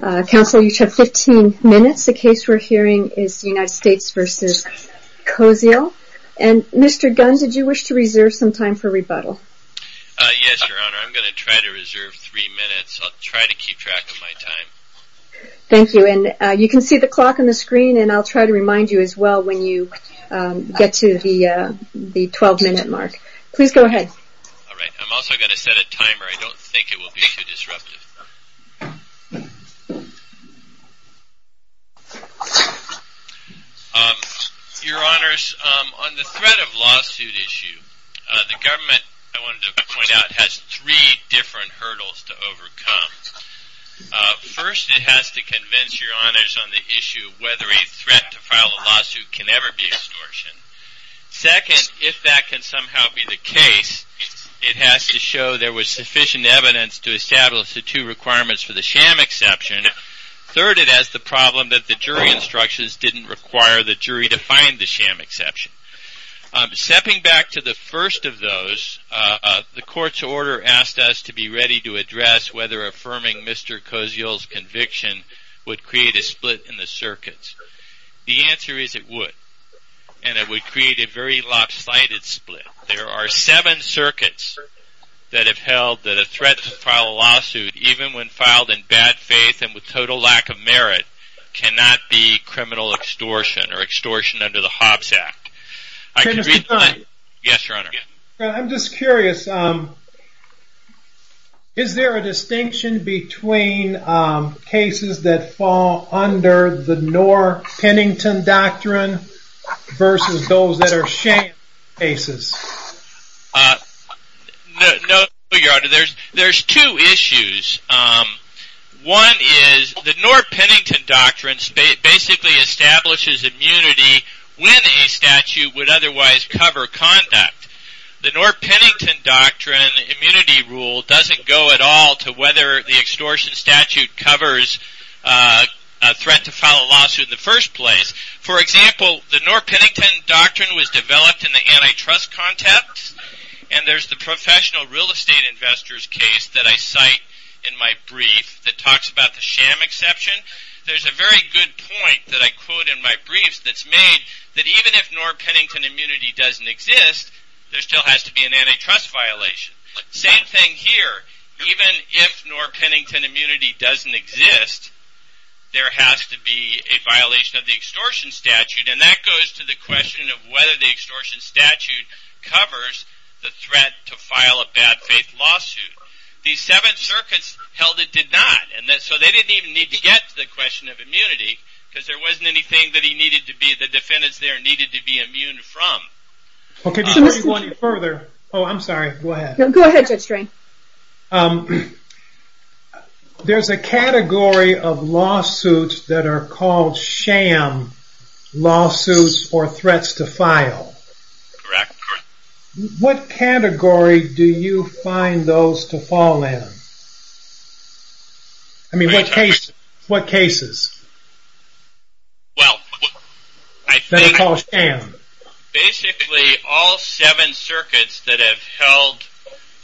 Council, you each have 15 minutes. The case we're hearing is the United States v. Koziol. Mr. Gunn, did you wish to reserve some time for rebuttal? Yes, Your Honor. I'm going to try to reserve three minutes. I'll try to keep track of my time. Thank you. You can see the clock on the screen, and I'll try to remind you as well when you get to the 12-minute mark. Please go ahead. All right. I'm also going to set a timer. I don't think it will be too disruptive. Your Honors, on the threat of lawsuit issue, the government, I wanted to point out, has three different hurdles to overcome. First, it has to convince Your Honors on the issue of whether a threat to file a lawsuit can ever be extortion. Second, if that can somehow be the case, it has to show there was sufficient evidence to establish the two requirements for the sham exception. Third, it has the problem that the jury instructions didn't require the jury to find the sham exception. Stepping back to the first of those, the court's order asked us to be ready to address whether affirming Mr. Koziol's conviction would create a split in the circuits. The answer is it would, and it would create a very lopsided split. There are seven circuits that have held that a threat to file a lawsuit, even when filed in bad faith and with total lack of merit, cannot be criminal extortion or extortion under the Hobbs Act. I'm just curious, is there a distinction between cases that fall under the Knorr-Pennington Doctrine versus those that are sham cases? No, Your Honor. There's two issues. One is the Knorr-Pennington Doctrine basically establishes immunity when a statute would otherwise cover conduct. The Knorr-Pennington Doctrine immunity rule doesn't go at all to whether the extortion statute covers a threat to file a lawsuit in the first place. For example, the Knorr-Pennington Doctrine was developed in the antitrust context, and there's the professional real estate investors case that I cite in my brief that talks about the sham exception. There's a very good point that I quote in my briefs that's made that even if Knorr-Pennington immunity doesn't exist, there still has to be an antitrust violation. Same thing here. Even if Knorr-Pennington immunity doesn't exist, there has to be a violation of the extortion statute, and that goes to the question of whether the extortion statute covers the threat to file a bad faith lawsuit. The Seventh Circuit held it did not, so they didn't even need to get to the question of immunity because there wasn't anything that the defendants there needed to be immune from. There's a category of lawsuits that are called sham lawsuits or threats to file. What category do you find those to fall in? I mean, what cases? Basically, all seven circuits that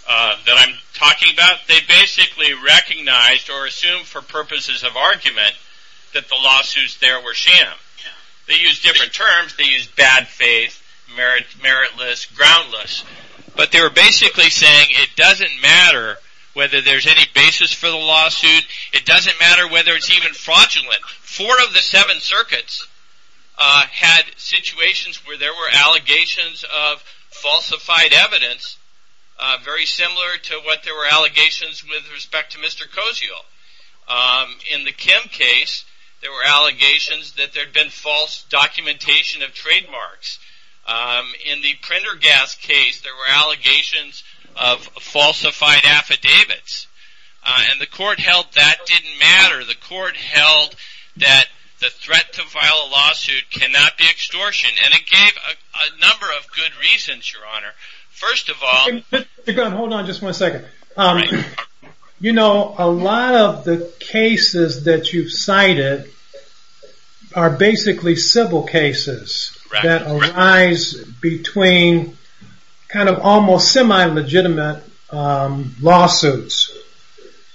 I'm talking about, they basically recognized or assumed for purposes of argument that the lawsuits there were sham. They used different terms. They used bad faith, meritless, groundless, but they were basically saying it doesn't matter whether there's any basis for the lawsuit. It doesn't matter whether it's even fraudulent. Four of the seven circuits had situations where there were allegations of falsified evidence, very similar to what there were allegations with respect to Mr. Kosial. In the Kim case, there were allegations that there had been false documentation of trademarks. In the Prendergast case, there were allegations of falsified affidavits, and the court held that didn't matter. The court held that the threat to file a lawsuit cannot be extortion, and it gave a number of good reasons, Your Honor. Hold on just one second. You know, a lot of the cases that you've cited are basically civil cases that arise between kind of almost semi-legitimate lawsuits,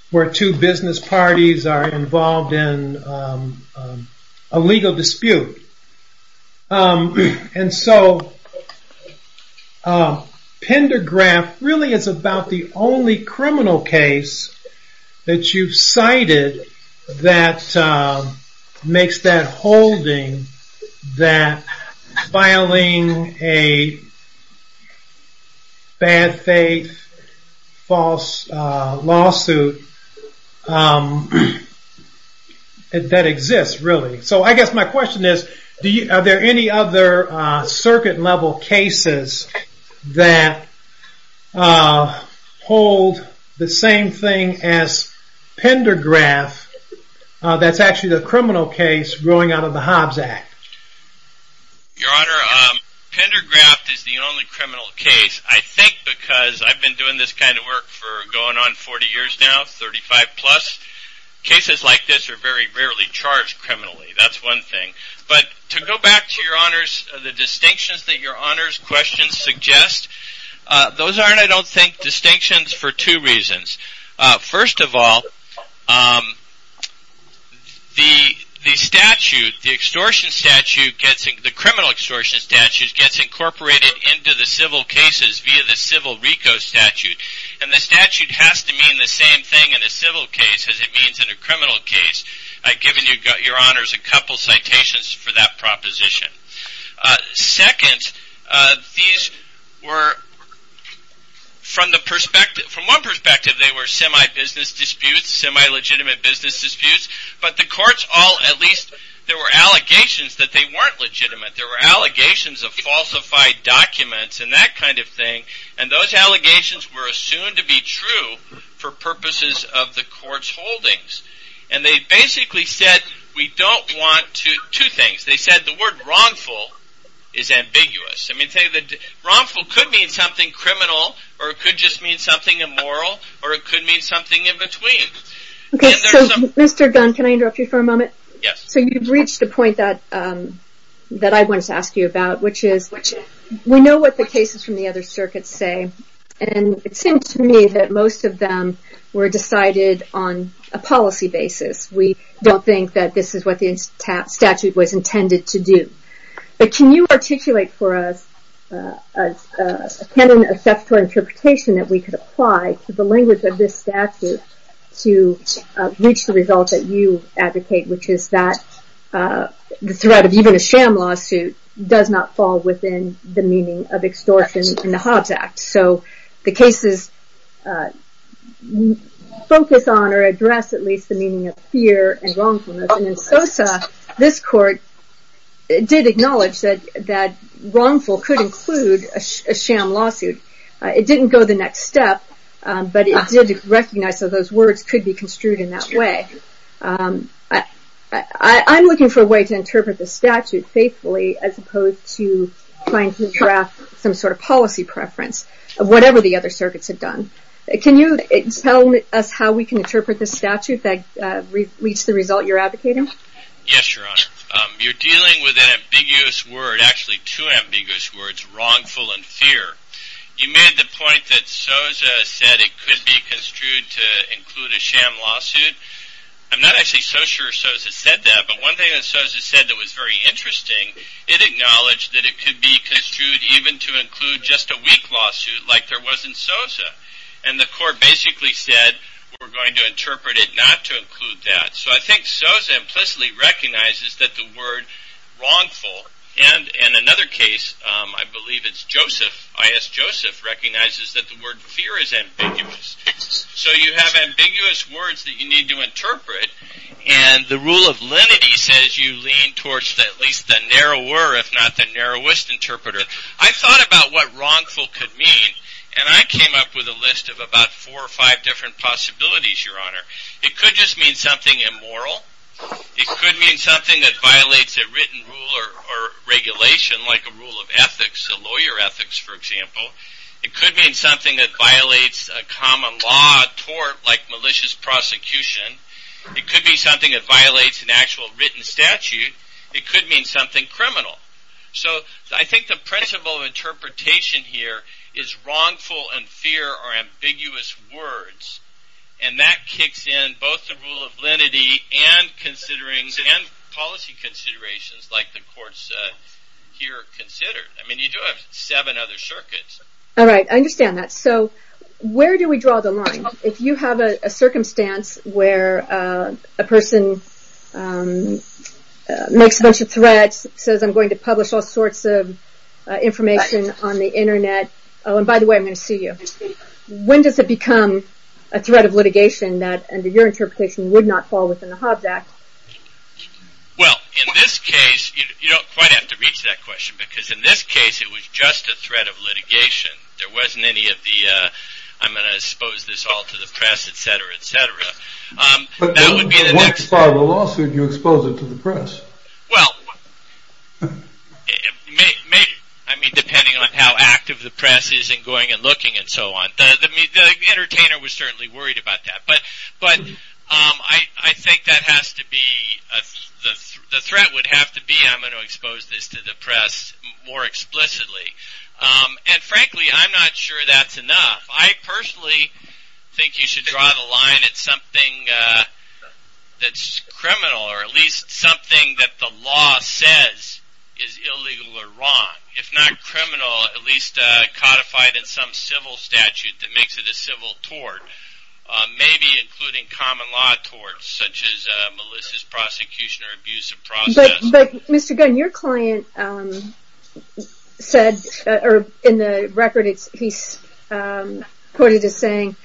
where two business parties are involved in a legal dispute. Prendergast really is about the only criminal case that you've cited that makes that holding that filing a bad faith, false lawsuit that exists, really. So I guess my question is, are there any other circuit-level cases that hold the same thing as Pendergraft that's actually the criminal case growing out of the Hobbs Act? Your Honor, Pendergast is the only criminal case, I think because I've been doing this kind of work for going on 40 years now, 35 plus. Cases like this are very rarely charged criminally, that's one thing. But to go back to, Your Honors, the distinctions that Your Honors' questions suggest, those aren't, I don't think, distinctions for two reasons. First of all, the statute, the extortion statute, the criminal extortion statute gets incorporated into the civil cases via the civil RICO statute. And the statute has to mean the same thing in a civil case as it means in a criminal case, given Your Honors' a couple citations for that proposition. Second, these were, from one perspective, they were semi-business disputes, semi-legitimate business disputes, but the courts all, at least, there were allegations that they weren't legitimate. There were allegations of falsified documents and that kind of thing, and those allegations were assumed to be true for purposes of the court's holdings. And they basically said, we don't want to, two things, they said the word wrongful is ambiguous. I mean, wrongful could mean something criminal, or it could just mean something immoral, or it could mean something in between. Okay, so Mr. Gunn, can I interrupt you for a moment? Yes. So you've reached a point that I wanted to ask you about, which is, we know what the cases from the other circuits say, and it seems to me that most of them were decided on a policy basis. We don't think that this is what the statute was intended to do. But can you articulate for us a canon of statutory interpretation that we could apply to the language of this statute to reach the results that you advocate, which is that the threat of even a sham lawsuit does not fall within the meaning of extortion in the Hobbs Act. So the cases focus on or address at least the meaning of fear and wrongfulness. And in Sosa, this court did acknowledge that wrongful could include a sham lawsuit. It didn't go the next step, but it did recognize that those words could be construed in that way. I'm looking for a way to interpret the statute faithfully as opposed to trying to draft some sort of policy preference of whatever the other circuits have done. Can you tell us how we can interpret the statute that reached the result you're advocating? Yes, Your Honor. You're dealing with an ambiguous word, actually two ambiguous words, wrongful and fear. You made the point that Sosa said it could be construed to include a sham lawsuit. I'm not actually so sure Sosa said that, but one thing that Sosa said that was very interesting, it acknowledged that it could be construed even to include just a weak lawsuit like there was in Sosa. And the court basically said, we're going to interpret it not to include that. So I think Sosa implicitly recognizes that the word wrongful, and in another case, I believe it's Joseph, I.S. Joseph, recognizes that the word fear is ambiguous. So you have ambiguous words that you need to interpret, and the rule of lenity says you lean towards at least the narrower, if not the narrowest interpreter. I thought about what wrongful could mean, and I came up with a list of about four or five different possibilities, Your Honor. It could just mean something immoral. It could mean something that violates a written rule or regulation, like a rule of ethics, a lawyer ethics, for example. It could mean something that violates a common law, a tort, like malicious prosecution. It could be something that violates an actual written statute. It could mean something criminal. So I think the principle of interpretation here is wrongful and fear are ambiguous words, and that kicks in both the rule of lenity and policy considerations like the court said here considered. I mean, you do have seven other circuits. All right, I understand that. So where do we draw the line? If you have a circumstance where a person makes a bunch of threats, says I'm going to publish all sorts of information on the internet. Oh, and by the way, I'm going to sue you. When does it become a threat of litigation that, under your interpretation, would not fall within the Hobbs Act? Well, in this case, you don't quite have to reach that question, because in this case, it was just a threat of litigation. There wasn't any of the I'm going to expose this all to the press, et cetera, et cetera. But what part of the lawsuit do you expose it to the press? Well, I mean, depending on how active the press is in going and looking and so on. The entertainer was certainly worried about that. But I think the threat would have to be I'm going to expose this to the press more explicitly. And frankly, I'm not sure that's enough. I personally think you should draw the line at something that's criminal or at least something that the law says is illegal or wrong. If not criminal, at least codified in some civil statute that makes it a civil tort. Maybe including common law torts, such as Melissa's prosecution or abuse of process. But, Mr. Gunn, your client said, or in the record, he's quoted as saying,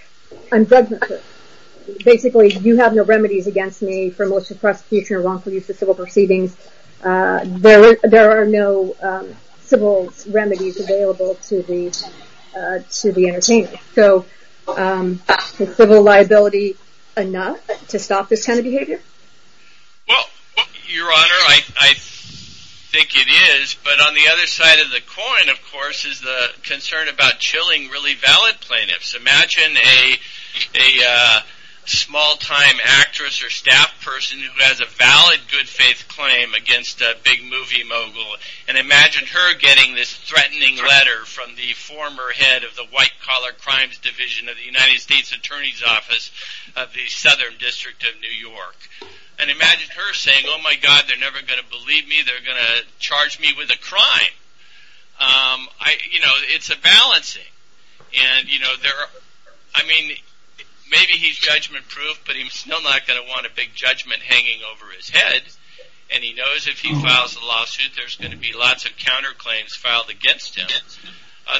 basically, you have no remedies against me for malicious prosecution or wrongful use of civil proceedings. There are no civil remedies available to the entertainer. So is civil liability enough to stop this kind of behavior? Well, Your Honor, I think it is. But on the other side of the coin, of course, is the concern about chilling really valid plaintiffs. Imagine a small-time actress or staff person who has a valid good faith claim against a big movie mogul. And imagine her getting this threatening letter from the former head of the white-collar crimes division of the United States Attorney's Office of the Southern District of New York. And imagine her saying, oh my God, they're never going to believe me. They're going to charge me with a crime. It's a balancing. Maybe he's judgment-proof, but he's still not going to want a big judgment hanging over his head. And he knows if he files a lawsuit, there's going to be lots of counterclaims filed against him.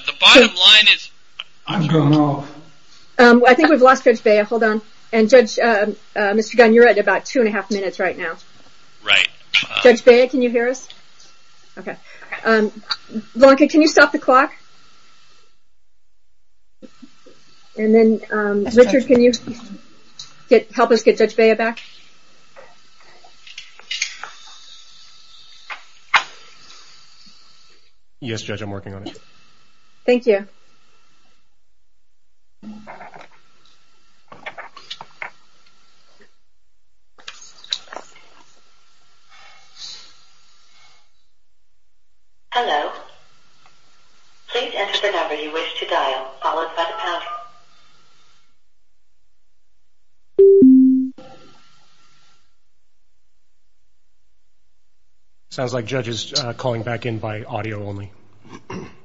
The bottom line is... I'm going off. I think we've lost Judge Bea. Hold on. And, Judge, Mr. Gunn, you're at about two and a half minutes right now. Right. Judge Bea, can you hear us? Okay. Lanka, can you stop the clock? And then, Richard, can you help us get Judge Bea back? Yes, Judge, I'm working on it. Thank you. Hello. Please enter the number you wish to dial, followed by the pound. Hello. Sounds like Judge is calling back in by audio only. Hello. Hello. Hello. Hello. Hello.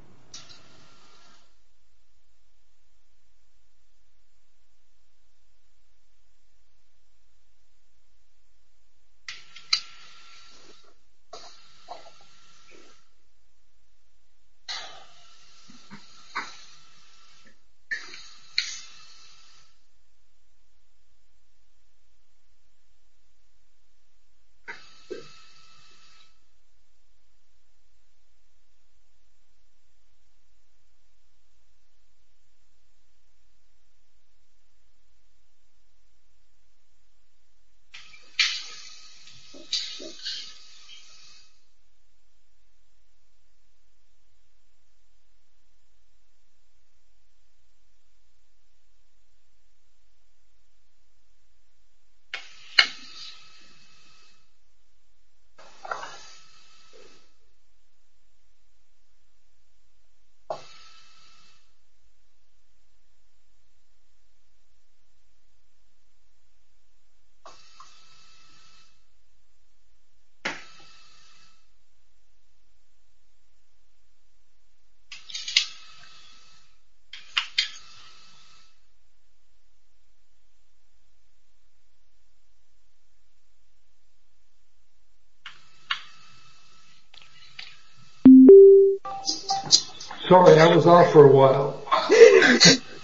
Sorry, I was off for a while.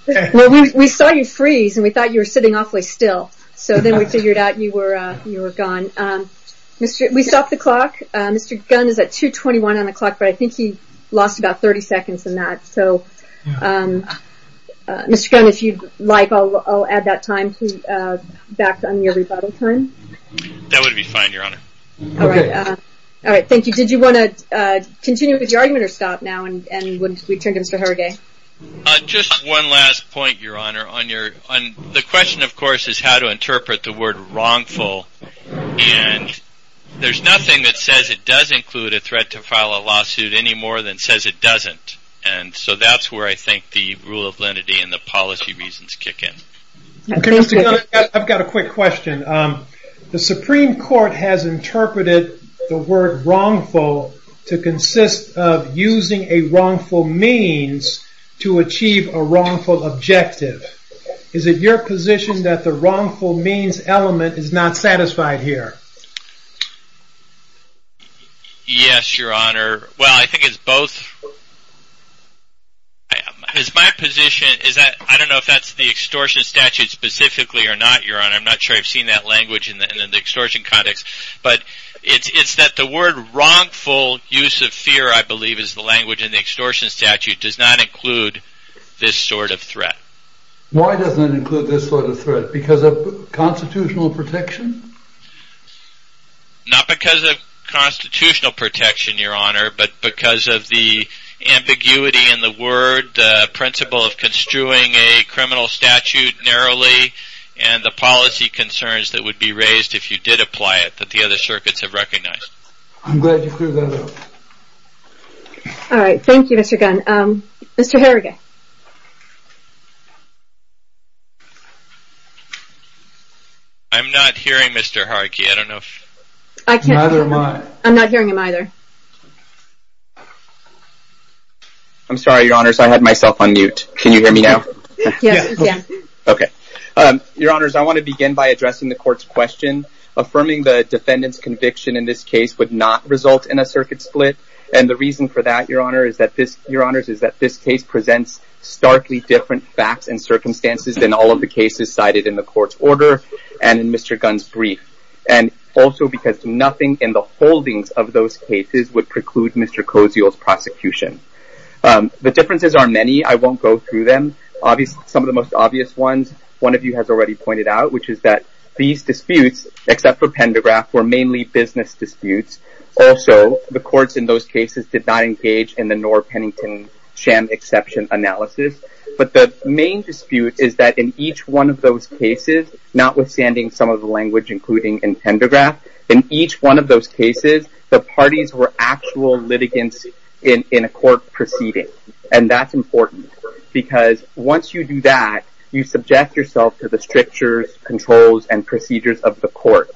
Well, we saw you freeze, and we thought you were sitting awfully still. So then we figured out you were gone. We stopped the clock. Mr. Gunn is at 2.21 on the clock, but I think he lost about 30 seconds in that. So, Mr. Gunn, if you'd like, I'll add that time back on your rebuttal time. That would be fine, Your Honor. Okay. All right. Thank you. Did you want to continue with your argument or stop now and return to Mr. Hergay? Just one last point, Your Honor. The question, of course, is how to interpret the word wrongful. And there's nothing that says it does include a threat to file a lawsuit any more than says it doesn't. And so that's where I think the rule of lenity and the policy reasons kick in. I've got a quick question. The Supreme Court has interpreted the word wrongful to consist of using a wrongful means to achieve a wrongful objective. Is it your position that the wrongful means element is not satisfied here? Yes, Your Honor. Well, I think it's both. My position is that I don't know if that's the extortion statute specifically or not, Your Honor. I'm not sure I've seen that language in the extortion context. But it's that the word wrongful use of fear, I believe, is the language in the extortion statute, does not include this sort of threat. Why does it include this sort of threat? Because of constitutional protection? Not because of constitutional protection, Your Honor, but because of the ambiguity in the word principle of construing a criminal statute narrowly and the policy concerns that would be raised if you did apply it that the other circuits have recognized. I'm glad you cleared that up. All right, thank you, Mr. Gunn. Mr. Haragay. I'm not hearing Mr. Haragay. Neither am I. I'm not hearing him either. I'm sorry, Your Honor, I had myself on mute. Can you hear me now? Yes. Okay. Your Honors, I want to begin by addressing the court's question. Affirming the defendant's conviction in this case would not result in a circuit split. And the reason for that, Your Honors, is that this case presents starkly different facts and circumstances than all of the cases cited in the court's order and in Mr. Gunn's brief. And also because nothing in the holdings of those cases would preclude Mr. Cozio's prosecution. The differences are many. I won't go through them. Some of the most obvious ones, one of you has already pointed out, which is that these disputes, except for Pendergraft, were mainly business disputes. Also, the courts in those cases did not engage in the Knorr-Pennington-Sham exception analysis. But the main dispute is that in each one of those cases, notwithstanding some of the language including in Pendergraft, in each one of those cases, the parties were actual litigants in a court proceeding. And that's important. Because once you do that, you subject yourself to the strictures, controls, and procedures of the court.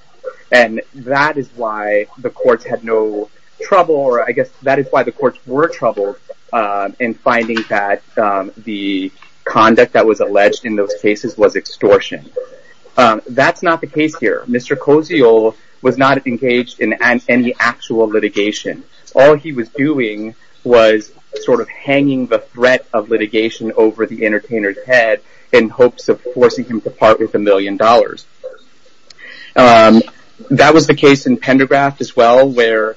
And that is why the courts had no trouble, or I guess that is why the courts were troubled in finding that the conduct that was alleged in those cases was extortion. That's not the case here. Mr. Cozio was not engaged in any actual litigation. All he was doing was sort of hanging the threat of litigation over the entertainer's head in hopes of forcing him to part with a million dollars. That was the case in Pendergraft as well where,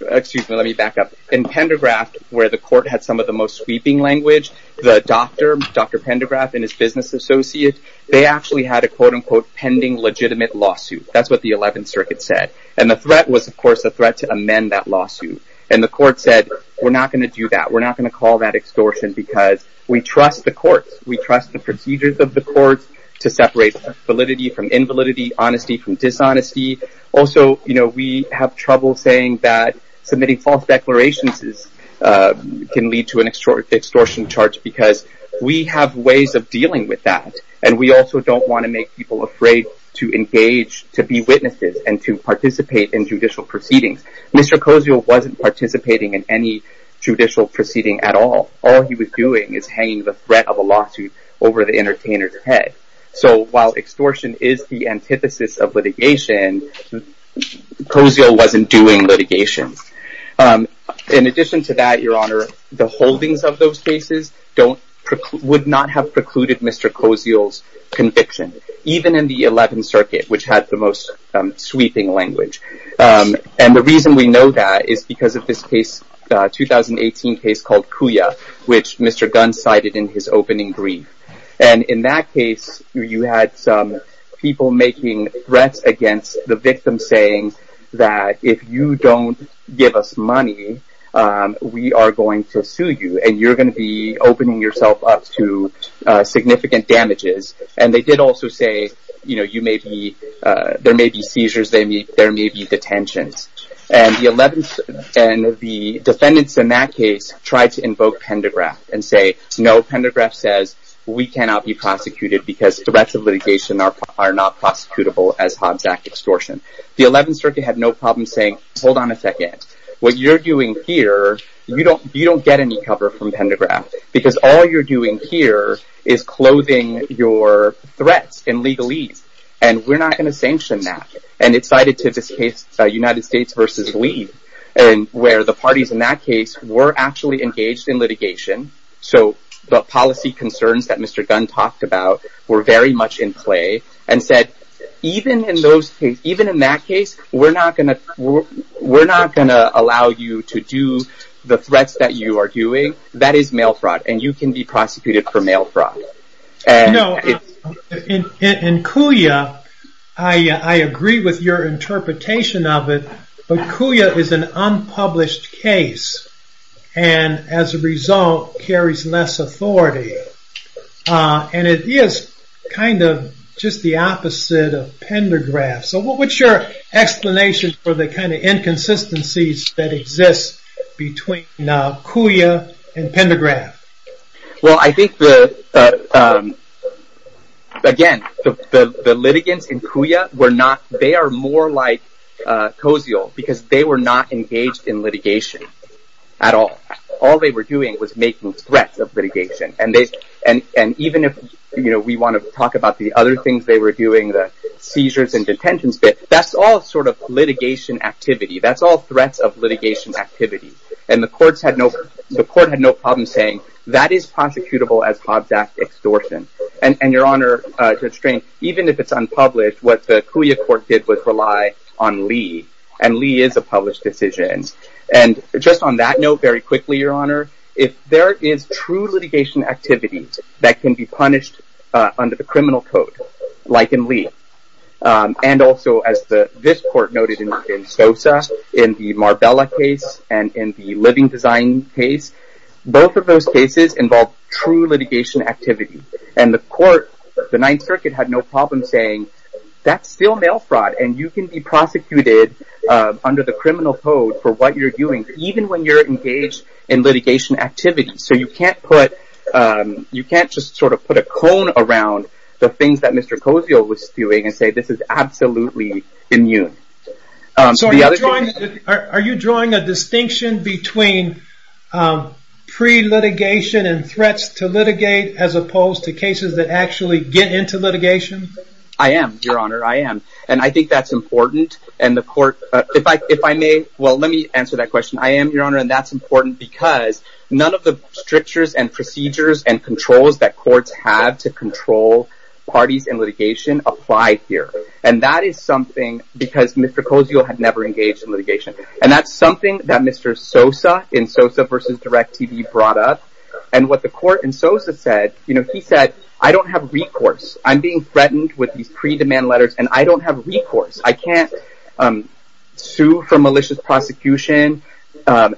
excuse me, let me back up. In Pendergraft, where the court had some of the most sweeping language, the doctor, Dr. Pendergraft and his business associate, they actually had a quote-unquote pending legitimate lawsuit. That's what the 11th Circuit said. And the threat was, of course, a threat to amend that lawsuit. And the court said, we're not going to do that. We're not going to call that extortion because we trust the courts. We trust the procedures of the courts to separate validity from invalidity, honesty from dishonesty. Also, we have trouble saying that submitting false declarations can lead to an extortion charge because we have ways of dealing with that. And we also don't want to make people afraid to engage, to be witnesses, and to participate in judicial proceedings. Mr. Cozio wasn't participating in any judicial proceeding at all. All he was doing is hanging the threat of a lawsuit over the entertainer's head. So while extortion is the antithesis of litigation, Cozio wasn't doing litigation. In addition to that, Your Honor, the holdings of those cases would not have precluded Mr. Cozio's conviction, even in the 11th Circuit, which had the most sweeping language. And the reason we know that is because of this case, the 2018 case called Cuya, which Mr. Gunn cited in his opening brief. And in that case, you had some people making threats against the victim, saying that if you don't give us money, we are going to sue you. And you're going to be opening yourself up to significant damages. And they did also say, you know, there may be seizures they meet, there may be detentions. And the defendants in that case tried to invoke Pendergraft and say, no, Pendergraft says we cannot be prosecuted because threats of litigation are not prosecutable as Hobbs Act extortion. The 11th Circuit had no problem saying, hold on a second. What you're doing here, you don't get any cover from Pendergraft because all you're doing here is clothing your threats and legalese. And we're not going to sanction that. And it's cited to this case, United States v. Lee, where the parties in that case were actually engaged in litigation. So the policy concerns that Mr. Gunn talked about were very much in play and said, even in that case, we're not going to allow you to do the threats that you are doing. That is mail fraud and you can be prosecuted for mail fraud. In CUIA, I agree with your interpretation of it, but CUIA is an unpublished case. And as a result, carries less authority. And it is kind of just the opposite of Pendergraft. So what's your explanation for the kind of inconsistencies that exist between CUIA and Pendergraft? Well, I think, again, the litigants in CUIA, they are more like COSEAL because they were not engaged in litigation at all. All they were doing was making threats of litigation. And even if we want to talk about the other things they were doing, the seizures and detentions, that's all sort of litigation activity. That's all threats of litigation activity. And the court had no problem saying that is prosecutable as Hobbs Act extortion. And, Your Honor, even if it's unpublished, what the CUIA court did was rely on Lee. And Lee is a published decision. And just on that note, very quickly, Your Honor, if there is true litigation activities that can be punished under the criminal code, like in Lee, and also as this court noted in Sosa, in the Marbella case, and in the Living Design case, both of those cases involve true litigation activity. And the court, the Ninth Circuit, had no problem saying that's still mail fraud and you can be prosecuted under the criminal code for what you're doing, even when you're engaged in litigation activity. So you can't put, you can't just sort of put a cone around the things that Mr. Cozio was doing and say this is absolutely immune. So are you drawing a distinction between pre-litigation and threats to litigate as opposed to cases that actually get into litigation? I am, Your Honor, I am. And I think that's important. If I may, well, let me answer that question. I am, Your Honor, and that's important because none of the strictures and procedures and controls that courts have to control parties in litigation apply here. And that is something, because Mr. Cozio had never engaged in litigation. And that's something that Mr. Sosa in Sosa v. Direct TV brought up. And what the court in Sosa said, you know, he said, I don't have recourse. I'm being threatened with these pre-demand letters and I don't have recourse. I can't sue for malicious prosecution.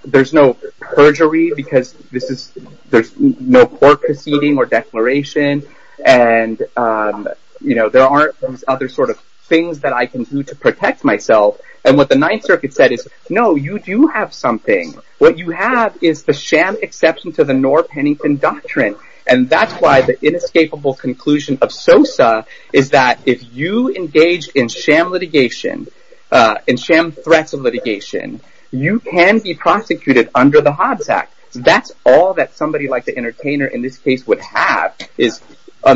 There's no perjury because this is, there's no court proceeding or declaration. And, you know, there aren't other sort of things that I can do to protect myself. And what the Ninth Circuit said is, no, you do have something. What you have is the sham exception to the Knorr-Pennington Doctrine. And that's why the inescapable conclusion of Sosa is that if you engage in sham litigation, in sham threats of litigation, you can be prosecuted under the Hobbs Act. That's all that somebody like the entertainer in this case would have.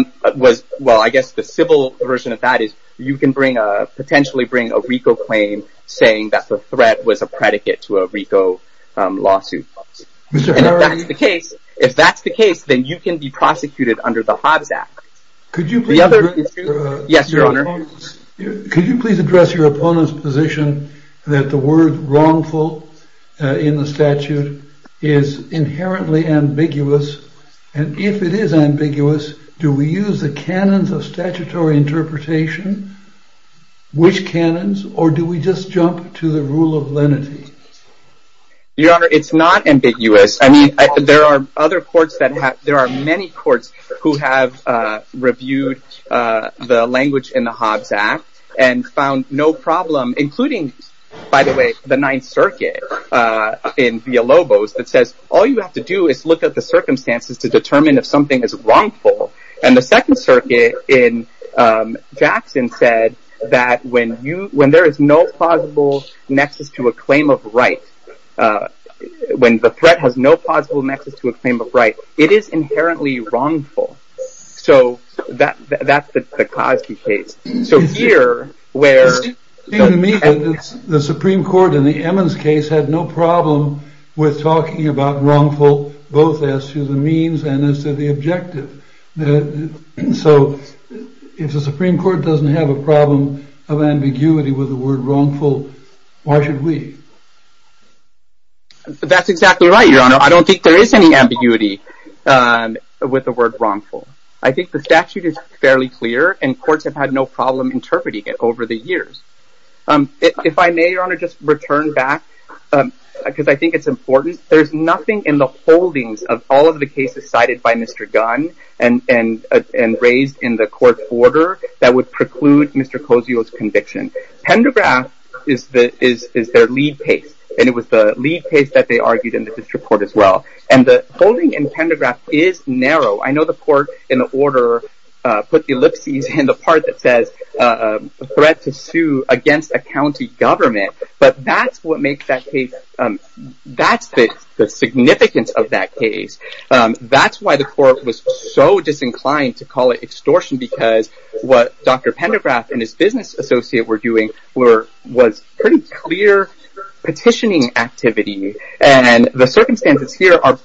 Well, I guess the civil version of that is you can potentially bring a RICO claim saying that the threat was a predicate to a RICO lawsuit. And if that's the case, if that's the case, then you can be prosecuted under the Hobbs Act. Could you please address your opponent's position that the word wrongful in the statute is inherently ambiguous? And if it is ambiguous, do we use the canons of statutory interpretation? Which canons or do we just jump to the rule of lenity? Your Honor, it's not ambiguous. I mean, there are other courts that have, there are many courts who have reviewed the language in the Hobbs Act and found no problem. Including, by the way, the Ninth Circuit in Villalobos that says all you have to do is look at the circumstances to determine if something is wrongful. And the Second Circuit in Jackson said that when there is no plausible nexus to a claim of right, when the threat has no possible nexus to a claim of right, it is inherently wrongful. So that's the Cosby case. It seems to me that the Supreme Court in the Emmons case had no problem with talking about wrongful both as to the means and as to the objective. So if the Supreme Court doesn't have a problem of ambiguity with the word wrongful, why should we? That's exactly right, Your Honor. I don't think there is any ambiguity with the word wrongful. I think the statute is fairly clear and courts have had no problem interpreting it over the years. If I may, Your Honor, just return back because I think it's important. There's nothing in the holdings of all of the cases cited by Mr. Gunn and raised in the court order that would preclude Mr. Cosio's conviction. Pendograph is their lead case and it was the lead case that they argued in the district court as well. And the holding in Pendograph is narrow. I know the court in the order put the ellipses in the part that says threat to sue against a county government. But that's what makes that case, that's the significance of that case. That's why the court was so disinclined to call it extortion because what Dr. Pendograph and his business associate were doing was pretty clear petitioning activity. And the circumstances here are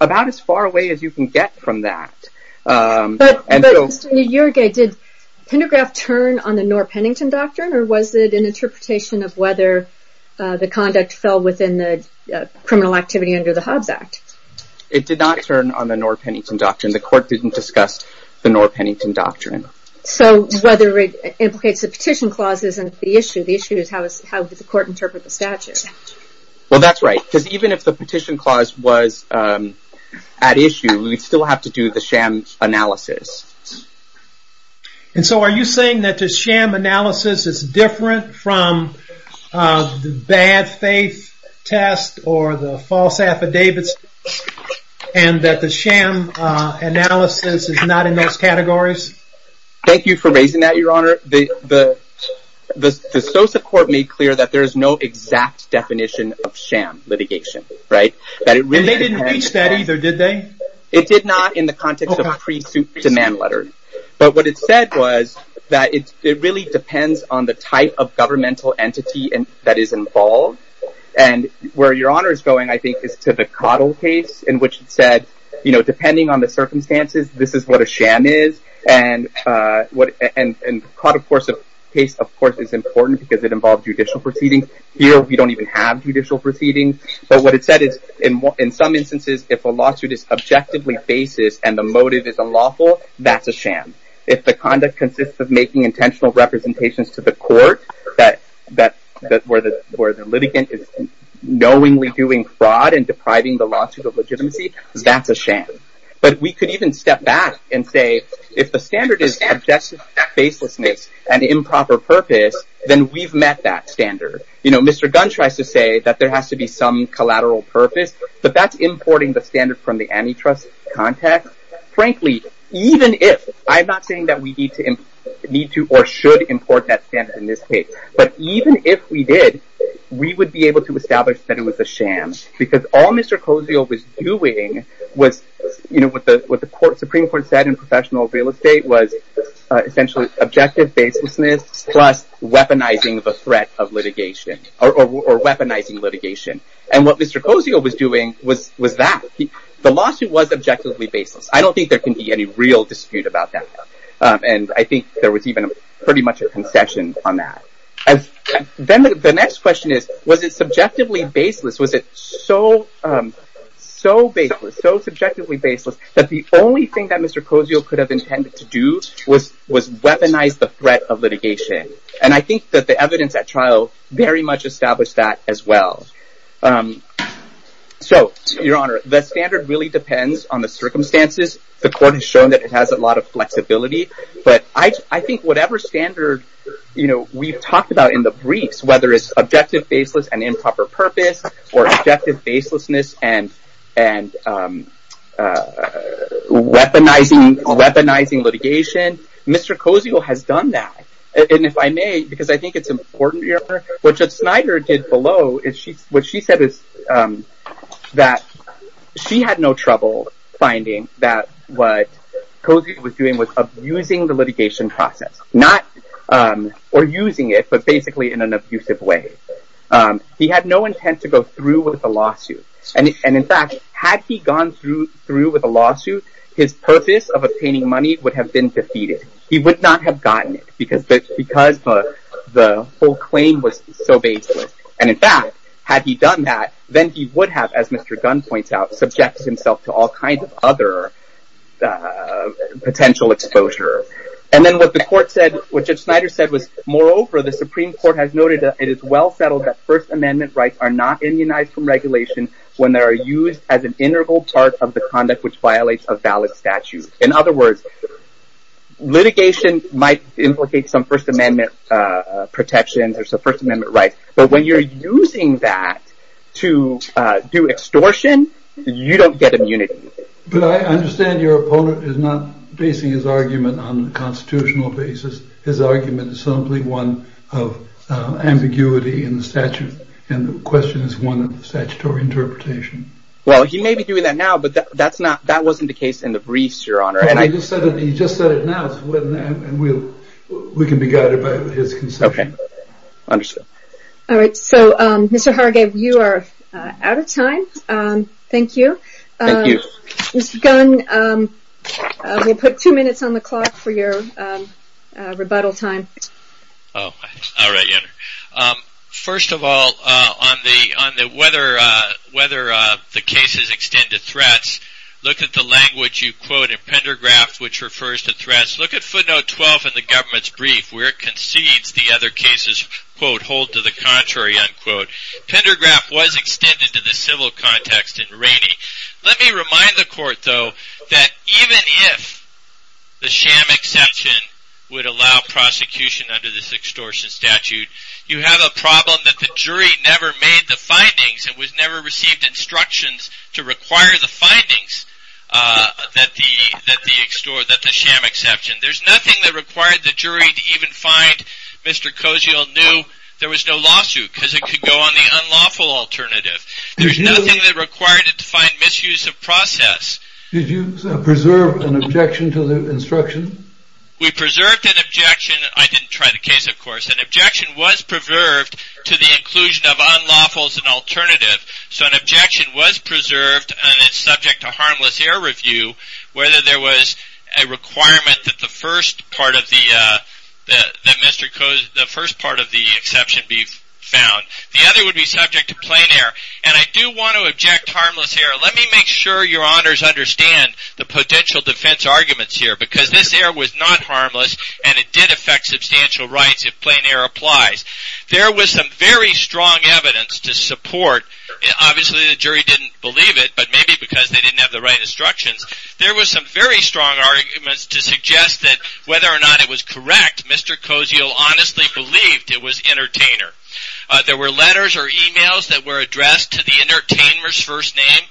about as far away as you can get from that. But Mr. Njorge, did Pendograph turn on the Knorr-Pennington Doctrine or was it an interpretation of whether the conduct fell within the criminal activity under the Hobbs Act? It did not turn on the Knorr-Pennington Doctrine. The court didn't discuss the Knorr-Pennington Doctrine. So whether it implicates the petition clause isn't the issue. The issue is how does the court interpret the statute? Well that's right. Because even if the petition clause was at issue, we'd still have to do the sham analysis. And so are you saying that the sham analysis is different from the bad faith test or the false affidavits and that the sham analysis is not in those categories? Thank you for raising that, Your Honor. The SOSA court made clear that there is no exact definition of sham litigation. And they didn't reach that either, did they? It did not in the context of pre-suit demand letters. But what it said was that it really depends on the type of governmental entity that is involved. And where Your Honor is going, I think, is to the Cottle case in which it said, you know, depending on the circumstances, this is what a sham is. And the Cottle case, of course, is important because it involved judicial proceedings. Here, we don't even have judicial proceedings. But what it said is, in some instances, if a lawsuit is objectively basis and the motive is unlawful, that's a sham. If the conduct consists of making intentional representations to the court where the litigant is knowingly doing fraud and depriving the lawsuit of legitimacy, that's a sham. But we could even step back and say, if the standard is objective baselessness and improper purpose, then we've met that standard. You know, Mr. Gunn tries to say that there has to be some collateral purpose, but that's importing the standard from the antitrust context. But frankly, even if, I'm not saying that we need to or should import that standard in this case, but even if we did, we would be able to establish that it was a sham. Because all Mr. Cozio was doing was, you know, what the Supreme Court said in professional real estate was essentially objective baselessness plus weaponizing the threat of litigation or weaponizing litigation. And what Mr. Cozio was doing was that. The lawsuit was objectively baseless. I don't think there can be any real dispute about that. And I think there was even pretty much a concession on that. Then the next question is, was it subjectively baseless? Was it so baseless, so subjectively baseless, that the only thing that Mr. Cozio could have intended to do was weaponize the threat of litigation? And I think that the evidence at trial very much established that as well. So, Your Honor, the standard really depends on the circumstances. The court has shown that it has a lot of flexibility. But I think whatever standard, you know, we've talked about in the briefs, whether it's objective baseless and improper purpose or objective baselessness and weaponizing litigation, then Mr. Cozio has done that. And if I may, because I think it's important, Your Honor, what Judge Snyder did below, what she said is that she had no trouble finding that what Cozio was doing was abusing the litigation process. Not, or using it, but basically in an abusive way. He had no intent to go through with the lawsuit. And in fact, had he gone through with a lawsuit, his purpose of obtaining money would have been defeated. He would not have gotten it because the whole claim was so baseless. And in fact, had he done that, then he would have, as Mr. Gunn points out, subjected himself to all kinds of other potential exposure. And then what the court said, what Judge Snyder said was, moreover, the Supreme Court has noted that it is well settled that First Amendment rights are not immunized from regulation when they are used as an integral part of the conduct which violates a valid statute. In other words, litigation might implicate some First Amendment protections or some First Amendment rights, but when you're using that to do extortion, you don't get immunity. But I understand your opponent is not basing his argument on the constitutional basis. His argument is simply one of ambiguity in the statute, and the question is one of statutory interpretation. Well, he may be doing that now, but that wasn't the case in the briefs, Your Honor. He just said it now, and we can be guided by his conception. Okay. Understood. All right. So, Mr. Hargave, you are out of time. Thank you. Thank you. Mr. Gunn, we'll put two minutes on the clock for your rebuttal time. All right, Your Honor. First of all, on whether the cases extend to threats, look at the language you quote in Pendergraft which refers to threats. Look at footnote 12 in the government's brief where it concedes the other cases, quote, hold to the contrary, unquote. Pendergraft was extended to the civil context in Rainey. Let me remind the court, though, that even if the sham exception would allow prosecution under this extortion statute, you have a problem that the jury never made the findings and never received instructions to require the findings that the sham exception. There's nothing that required the jury to even find Mr. Koziel knew there was no lawsuit because it could go on the unlawful alternative. There's nothing that required it to find misuse of process. Did you preserve an objection to the instruction? We preserved an objection. I didn't try the case, of course. An objection was preserved to the inclusion of unlawful as an alternative. So an objection was preserved and it's subject to harmless air review. Whether there was a requirement that the first part of the Mr. Kozel, the first part of the exception be found. The other would be subject to plain air. And I do want to object harmless air. Let me make sure your honors understand the potential defense arguments here because this air was not harmless and it did affect substantial rights if plain air applies. There was some very strong evidence to support. Obviously, the jury didn't believe it, but maybe because they didn't have the right instructions. There was some very strong arguments to suggest that whether or not it was correct, Mr. Koziel honestly believed it was entertainer. There were letters or emails that were addressed to the entertainer's first name,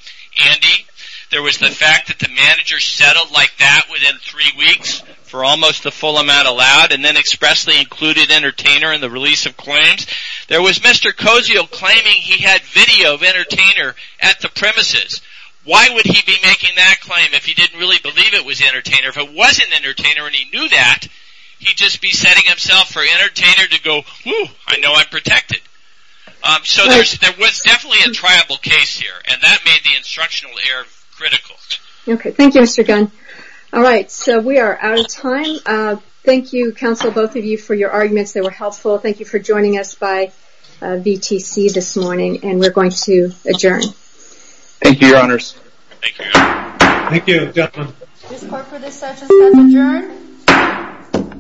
Andy. There was the fact that the manager settled like that within three weeks for almost the full amount allowed and then expressly included entertainer in the release of claims. There was Mr. Koziel claiming he had video of entertainer at the premises. Why would he be making that claim if he didn't really believe it was entertainer? If it wasn't entertainer and he knew that, he'd just be setting himself for entertainer to go, whew, I know I'm protected. So there was definitely a triable case here and that made the instructional air critical. Okay, thank you, Mr. Gunn. All right, so we are out of time. Thank you, counsel, both of you for your arguments. They were helpful. Thank you for joining us by VTC this morning and we're going to adjourn. Thank you, your honors. Thank you. Thank you, gentlemen. This court for this session has adjourned.